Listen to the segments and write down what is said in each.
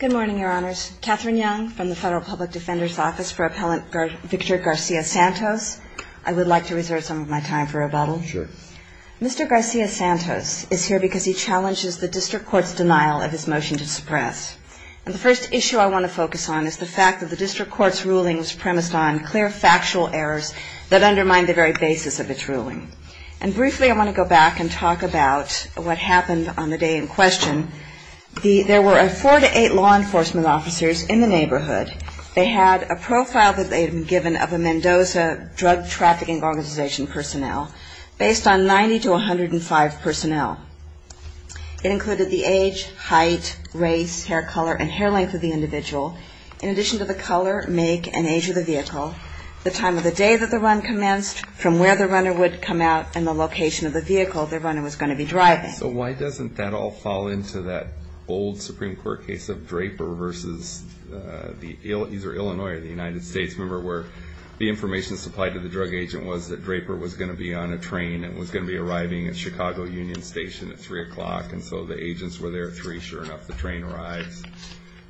Good morning, Your Honors. Katherine Young from the Federal Public Defender's Office for Appellant Victor Garcia-Santos. I would like to reserve some of my time for rebuttal. Sure. Mr. Garcia-Santos is here because he challenges the district court's denial of his motion to suppress. And the first issue I want to focus on is the fact that the district court's ruling was premised on clear factual errors that undermine the very basis of its ruling. I want to go back and talk about what happened on the day in question. There were four to eight law enforcement officers in the neighborhood. They had a profile that they had been given of a Mendoza drug trafficking organization personnel based on 90 to 105 personnel. It included the age, height, race, hair color and hair length of the individual, in addition to the color, make and age of the vehicle, the time of the day that the run commenced, from where the runner would come out and the location of the vehicle the runner was going to be driving. So why doesn't that all fall into that old Supreme Court case of Draper versus the Illinois or the United States? Remember where the information supplied to the drug agent was that Draper was going to be on a train and was going to be arriving at Chicago Union Station at three o'clock and so the agents were there at three. Sure enough, the train arrives.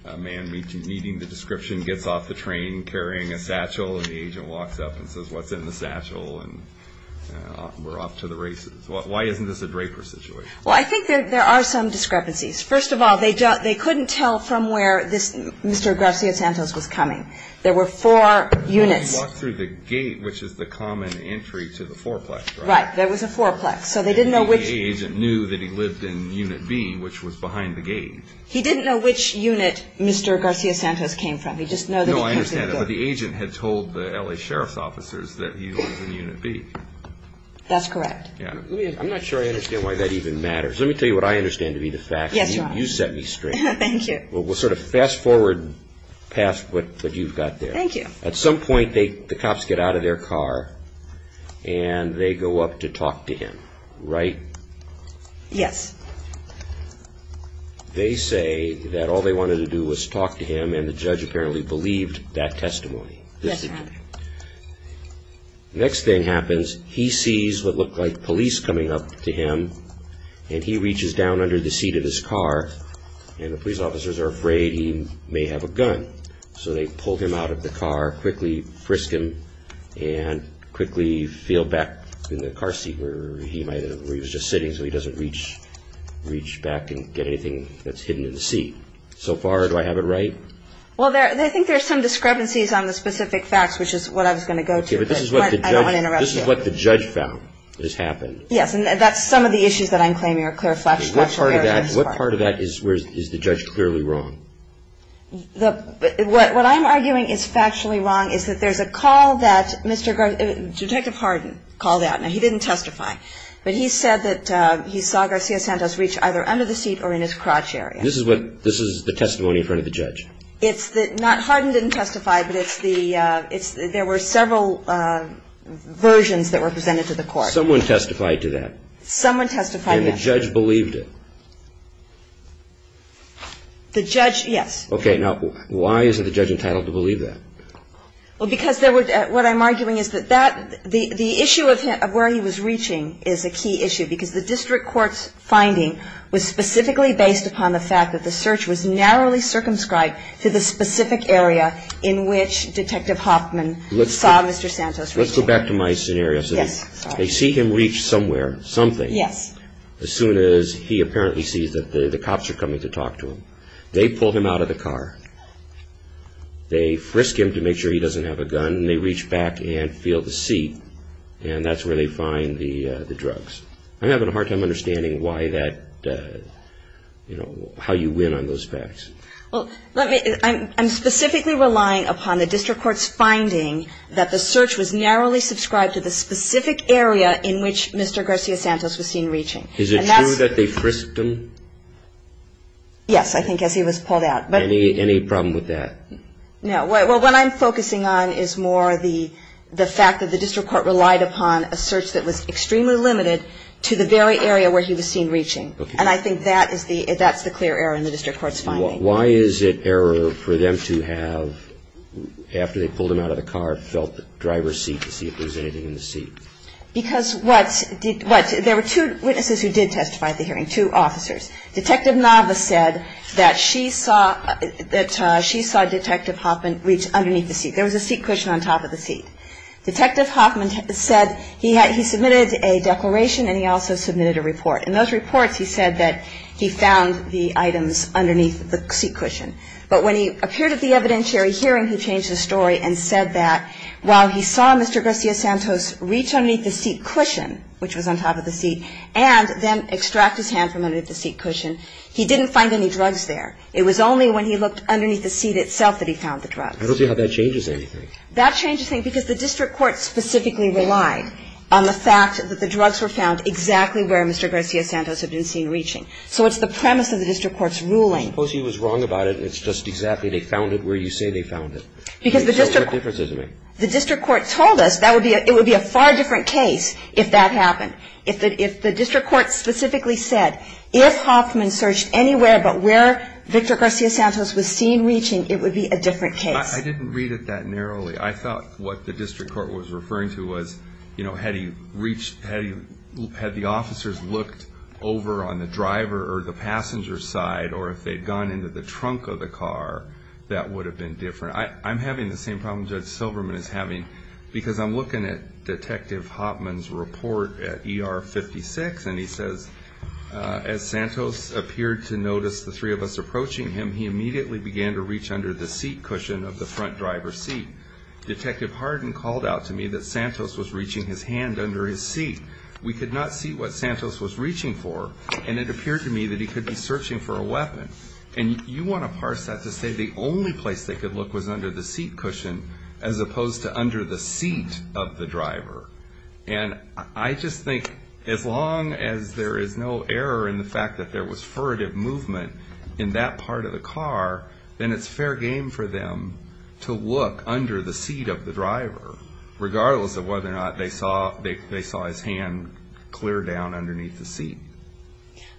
A man meeting the description gets off the train carrying a satchel and the agent walks up and says, what's in the satchel and we're off to the races. Why isn't this a Draper situation? Well, I think there are some discrepancies. First of all, they couldn't tell from where Mr. Garcia-Santos was coming. There were four units. He walked through the gate, which is the common entry to the fourplex, right? Right. There was a fourplex. So they didn't know which And the agent knew that he lived in Unit B, which was behind the gate. He didn't know which unit Mr. Garcia-Santos came from. He just knew that he came through the fourplex that he lived in Unit B. That's correct. I'm not sure I understand why that even matters. Let me tell you what I understand to be the fact. You set me straight. Thank you. We'll sort of fast forward past what you've got there. At some point, the cops get out of their car and they go up to talk to him, right? Yes. They say that all they wanted to do was talk to him and the judge apparently believed that testimony. Next thing happens, he sees what looked like police coming up to him and he reaches down under the seat of his car and the police officers are afraid he may have a gun. So they pull him out of the car, quickly frisk him and quickly feel back in the car seat where he was just sitting so he doesn't reach back and get anything that's hidden in the seat. So far, do I have it right? Well, I think there's some discrepancies on the specific facts, which is what I was going to go to. Okay, but this is what the judge found has happened. Yes, and that's some of the issues that I'm claiming are clear. What part of that is the judge clearly wrong? What I'm arguing is factually wrong is that there's a call that Mr. Garcia, Detective Harden called out. Now, he didn't testify, but he said that he saw Garcia Santos reach either under the seat or in his crotch area. This is the testimony in front of the judge? Harden didn't testify, but there were several versions that were presented to the court. Someone testified to that? Someone testified, yes. And the judge believed it? The judge, yes. Okay, now why isn't the judge entitled to believe that? Well, because what I'm arguing is that the issue of where he was reaching is a key issue because the district court's finding was specifically based upon the fact that the search was narrowly circumscribed to the specific area in which Detective Hoffman saw Mr. Santos reaching. Let's go back to my scenario. Yes. They see him reach somewhere, something. Yes. As soon as he apparently sees that the cops are coming to talk to him. They pull him out of the car. They frisk him to make sure he doesn't have a gun, and they reach back and feel the seat, and that's where they find the drugs. I'm having a hard time understanding how you win on those facts. Well, I'm specifically relying upon the district court's finding that the search was narrowly subscribed to the specific area in which Mr. Garcia Santos was seen reaching. Is it true that they frisked him? Yes, I think as he was pulled out. Any problem with that? No. What I'm focusing on is more the fact that the district court relied upon a search that was extremely limited to the very area where he was seen reaching, and I think that's the clear error in the district court's finding. Why is it error for them to have, after they pulled him out of the car, felt the driver's seat to see if there was anything in the seat? Because what? There were two witnesses who did testify at the hearing, two officers. Detective Nava said that she saw Detective Hoffman reach underneath the seat. There was a seat cushion on top of the seat. Detective Hoffman said he submitted a declaration, and he also submitted a report. In those reports, he said that he found the items underneath the seat cushion. But when he appeared at the evidentiary hearing, he changed his story and said that while he saw Mr. Garcia Santos reach underneath the seat cushion, which was on top of the seat, and then extract his hand from underneath the seat cushion, he didn't find any drugs there. It was only when he looked underneath the seat itself that he found the drugs. I don't see how that changes anything. That changes things because the district court specifically relied on the fact that the drugs were found exactly where Mr. Garcia Santos had been seen reaching. So it's the premise of the district court's ruling. I suppose he was wrong about it. It's just exactly they found it where you say they found it. Because the district court told us that it would be a far different case if that happened, if the district court specifically said if Hoffman searched anywhere but where Victor Garcia Santos was seen reaching, it would be a different case. I didn't read it that narrowly. I thought what the district court was referring to was, you know, had he reached, had the officers looked over on the driver or the passenger side, or if they'd gone into the trunk of the car, that would have been different. I'm having the same problem Judge Silverman is having because I'm looking at Detective Hoffman's report at ER 56, and he says, as Santos appeared to notice the three of us approaching him, he immediately began to reach under the seat cushion of the front driver's seat. Detective Harden called out to me that Santos was reaching his hand under his seat. We could not see what Santos was reaching for, and it appeared to me that he could be searching for a weapon. And you want to parse that to say the only place they could look was under the seat cushion, as opposed to under the seat of the driver. And I just think as long as there is no error in the fact that there was furtive movement in that part of the car, then it's fair game for them to look under the seat of the driver, regardless of whether or not they saw his hand clear down underneath the seat.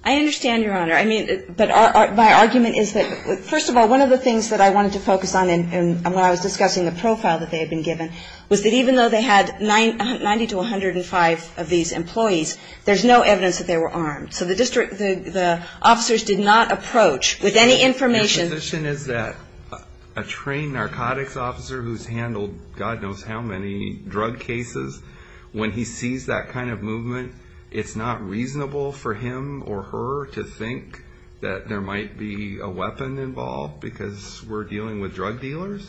I understand, Your Honor. I mean, but my argument is that, first of all, one of the things that I wanted to focus on when I was discussing the profile that they had been given, was that even though they had 90 to 105 of these employees, there's no evidence that they were armed. So the district, the officers did not approach with any information. My position is that a trained narcotics officer who's handled God knows how many drug cases, when he sees that kind of movement, it's not reasonable for him or her to think that there might be a weapon involved because we're dealing with drug dealers?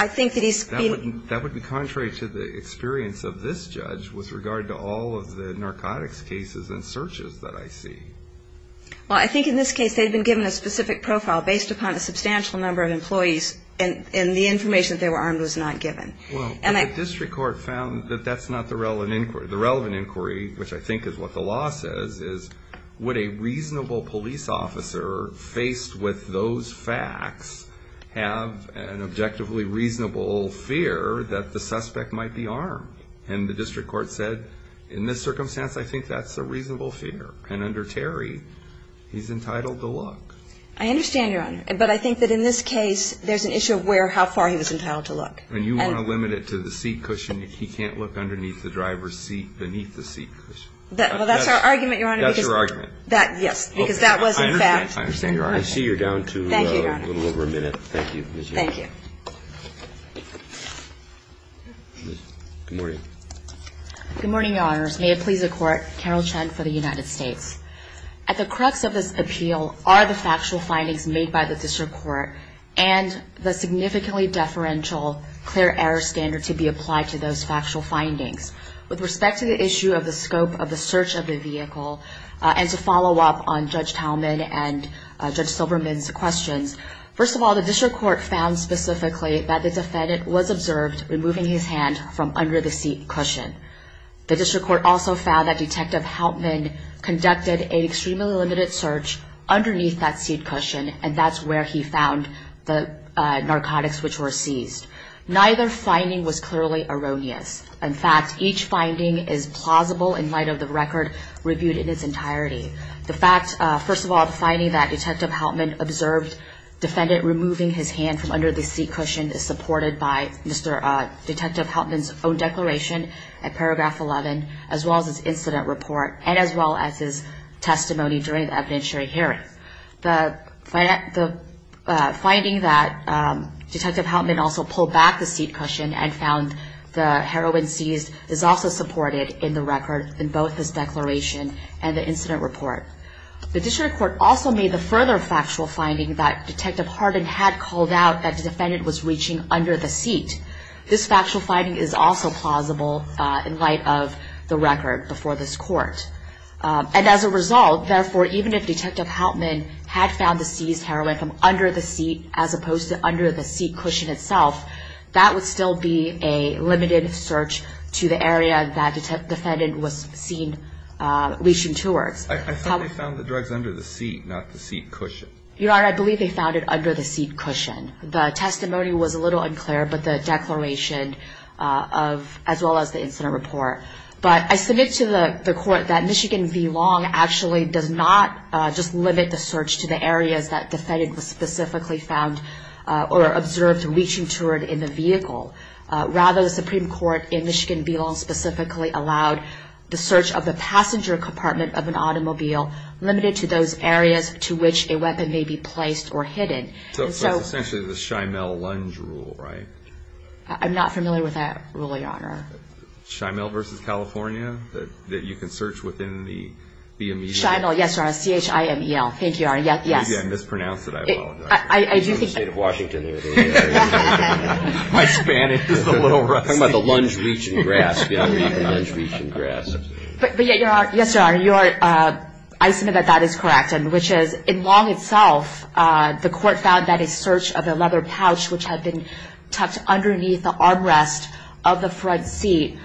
I think that he's being... That would be contrary to the experience of this judge with regard to all of the narcotics cases and searches that I see. Well, I think in this case they'd been given a specific profile based upon a substantial number of employees, and the information that they were armed was not given. Well, but the district court found that that's not the relevant inquiry. The relevant inquiry, which I think is what the law says, is would a reasonable police officer faced with those facts have an objectively reasonable fear that the suspect might be armed? And the district court said, in this circumstance, I think that's a reasonable fear. And under Terry, he's entitled to look. I understand, Your Honor. But I think that in this case, there's an issue of how far he was entitled to look. When you want to limit it to the seat cushion, he can't look underneath the driver's seat beneath the seat cushion. Well, that's our argument, Your Honor. That's your argument? Yes, because that was in fact... I see you're down to a little over a minute. Thank you, Your Honor. Thank you. Good morning. Good morning, Your Honors. May it please the Court, Carol Chen for the United States. At the crux of this appeal are the factual findings made by the district court and the significantly deferential clear error standard to be applied to those factual findings. With respect to the issue of the scope of the search of the vehicle and to follow up on Judge Talman and Judge Silberman's questions, first of all, the district court found specifically that the defendant was observed removing his hand from under the seat cushion. The district court also found that Detective Houtman conducted an extremely limited search underneath that seat cushion, and that's where he found the narcotics which were seized. Neither finding was clearly erroneous. In fact, each finding is plausible in light of the record reviewed in its entirety. The fact, first of all, the finding that Detective Houtman observed defendant removing his hand from under the seat cushion is supported by Detective Houtman's own declaration at paragraph 11, as well as his incident report and as well as his testimony during the evidentiary hearing. The finding that Detective Houtman also pulled back the seat cushion and found the heroin seized is also supported in the record in both his declaration and the incident report. The district court also made the further factual finding that Detective Harden had called out that the defendant was reaching under the seat. This factual finding is also plausible in light of the record before this court. And as a result, therefore, even if Detective Houtman had found the seized heroin from under the seat as opposed to under the seat cushion itself, that would still be a limited search to the area that the defendant was seen reaching towards. I thought they found the drugs under the seat, not the seat cushion. Your Honor, I believe they found it under the seat cushion. The testimony was a little unclear, but the declaration as well as the incident report. But I submit to the court that Michigan v. Long actually does not just limit the search to the areas that the defendant was specifically found or observed reaching toward in the vehicle. Rather, the Supreme Court in Michigan v. Long specifically allowed the search of the passenger compartment of an automobile limited to those areas to which a weapon may be placed or hidden. So it's essentially the Shymel Lunge Rule, right? I'm not familiar with that rule, Your Honor. Shymel v. California, that you can search within the immediate area? Shymel, yes, Your Honor. C-H-I-M-E-L. Thank you, Your Honor. Yes. Maybe I mispronounced it. I apologize. I do think that... It's the state of Washington here. My Spanish is a little rusty. I'm talking about the lunge reach and grasp, Your Honor, the lunge reach and grasp. But yet, Your Honor, yes, Your Honor, I submit that that is correct, which is in Long itself, the court found that a search of a leather pouch which had been tucked underneath the armrest of the front seat,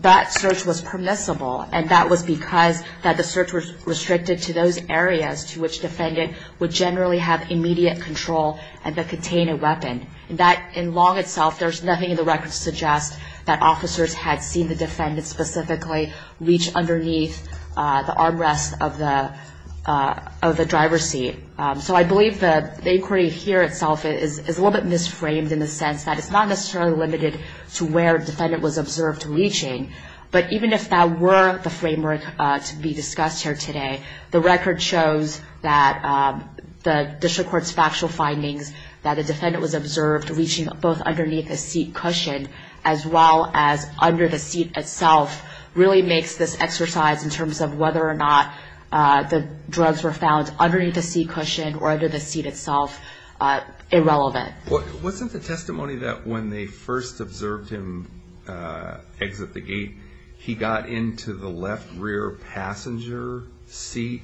that search was permissible. And that was because the search was restricted to those areas to which the defendant would generally have immediate control and contain a weapon. In Long itself, there's nothing in the record that suggests that officers had seen the defendant specifically reach underneath the armrest of the driver's seat. So I believe the inquiry here itself is a little bit misframed in the sense that it's not necessarily limited to where the defendant was observed reaching. But even if that were the framework to be discussed here today, the record shows that the district court's factual findings that the defendant was observed reaching both under the seat itself really makes this exercise in terms of whether or not the drugs were found underneath the seat cushion or under the seat itself irrelevant. Wasn't the testimony that when they first observed him exit the gate, he got into the left rear passenger seat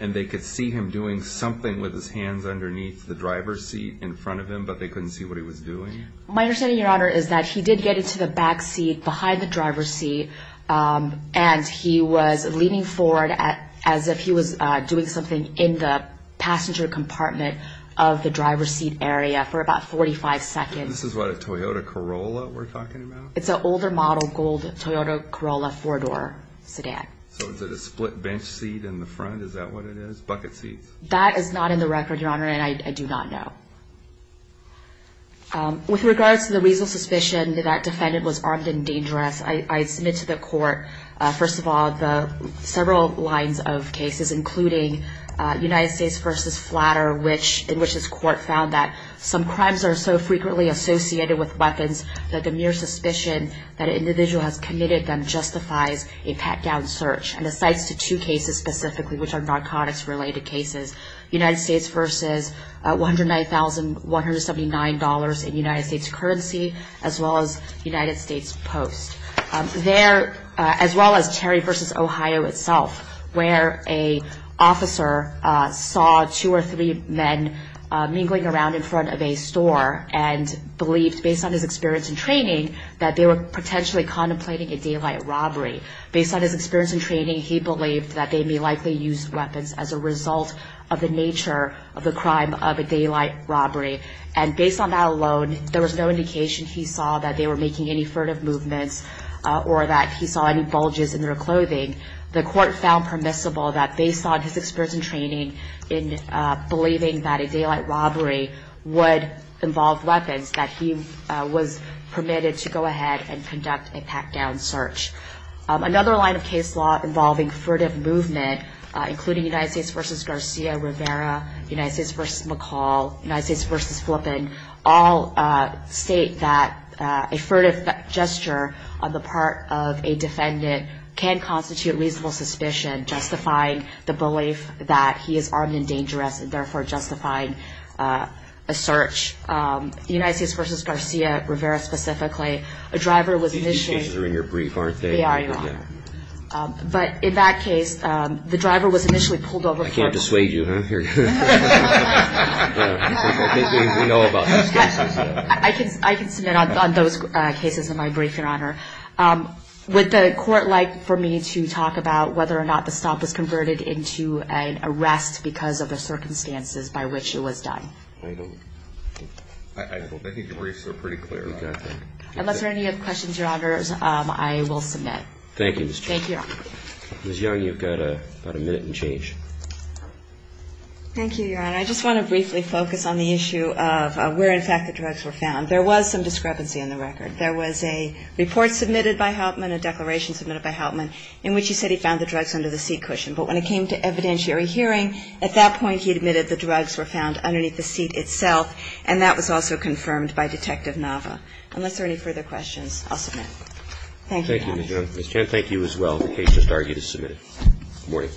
and they could see him doing something with his hands underneath the driver's seat in front of him, but they couldn't see what he was doing? My understanding, Your Honor, is that he did get into the back seat behind the driver's seat and he was leaning forward as if he was doing something in the passenger compartment of the driver's seat area for about 45 seconds. This is what, a Toyota Corolla we're talking about? It's an older model gold Toyota Corolla four-door sedan. So is it a split bench seat in the front? Is that what it is? Bucket seats? That is not in the record, Your Honor, and I do not know. With regards to the reasonable suspicion that that defendant was armed and dangerous, I submit to the court, first of all, the several lines of cases, including United States v. Flatter, in which this court found that some crimes are so frequently associated with weapons that the mere suspicion that an individual has committed them justifies a pat-down search and asides to two cases specifically, which are narcotics-related cases, United States v. $109,179 in United States currency, as well as United States Post. There, as well as Terry v. Ohio itself, where an officer saw two or three men mingling around in front of a store and believed, based on his experience and training, that they were potentially contemplating a daylight robbery. Based on his experience and training, he believed that they may likely use weapons as a result of the nature of the crime of a daylight robbery. And based on that alone, there was no indication he saw that they were making any furtive movements or that he saw any bulges in their clothing. The court found permissible that, based on his experience and training, in believing that a daylight robbery would involve weapons, that he was permitted to go ahead and conduct a pat-down search. Another line of case law involving furtive movement, including United States v. Garcia Rivera, United States v. McCall, United States v. Flippin, all state that a furtive gesture on the part of a defendant can constitute reasonable suspicion, justifying the belief that he is armed and dangerous and therefore justifying a search. United States v. Garcia Rivera, specifically, a driver was initially... These cases are in your brief, aren't they? They are, Your Honor. But in that case, the driver was initially pulled over for... I can't dissuade you, huh? We know about those cases. I can submit on those cases in my brief, Your Honor. Would the court like for me to talk about whether or not the stop was converted into an arrest because of the circumstances by which it was done? I don't think the briefs are pretty clear. Unless there are any other questions, Your Honors, I will submit. Thank you, Ms. Chang. Thank you, Your Honor. Ms. Young, you've got about a minute and change. Thank you, Your Honor. I just want to briefly focus on the issue of where, in fact, the drugs were found. There was some discrepancy in the record. There was a report submitted by Hauptman, a declaration submitted by Hauptman, in which he said he found the drugs under the seat cushion. But when it came to evidentiary hearing, at that point he admitted the drugs were found underneath the seat itself, and that was also confirmed by Detective Nava. Unless there are any further questions, I'll submit. Thank you, Your Honor. Thank you, Ms. Young. Ms. Chang, thank you as well. The case just argued is submitted. Good morning.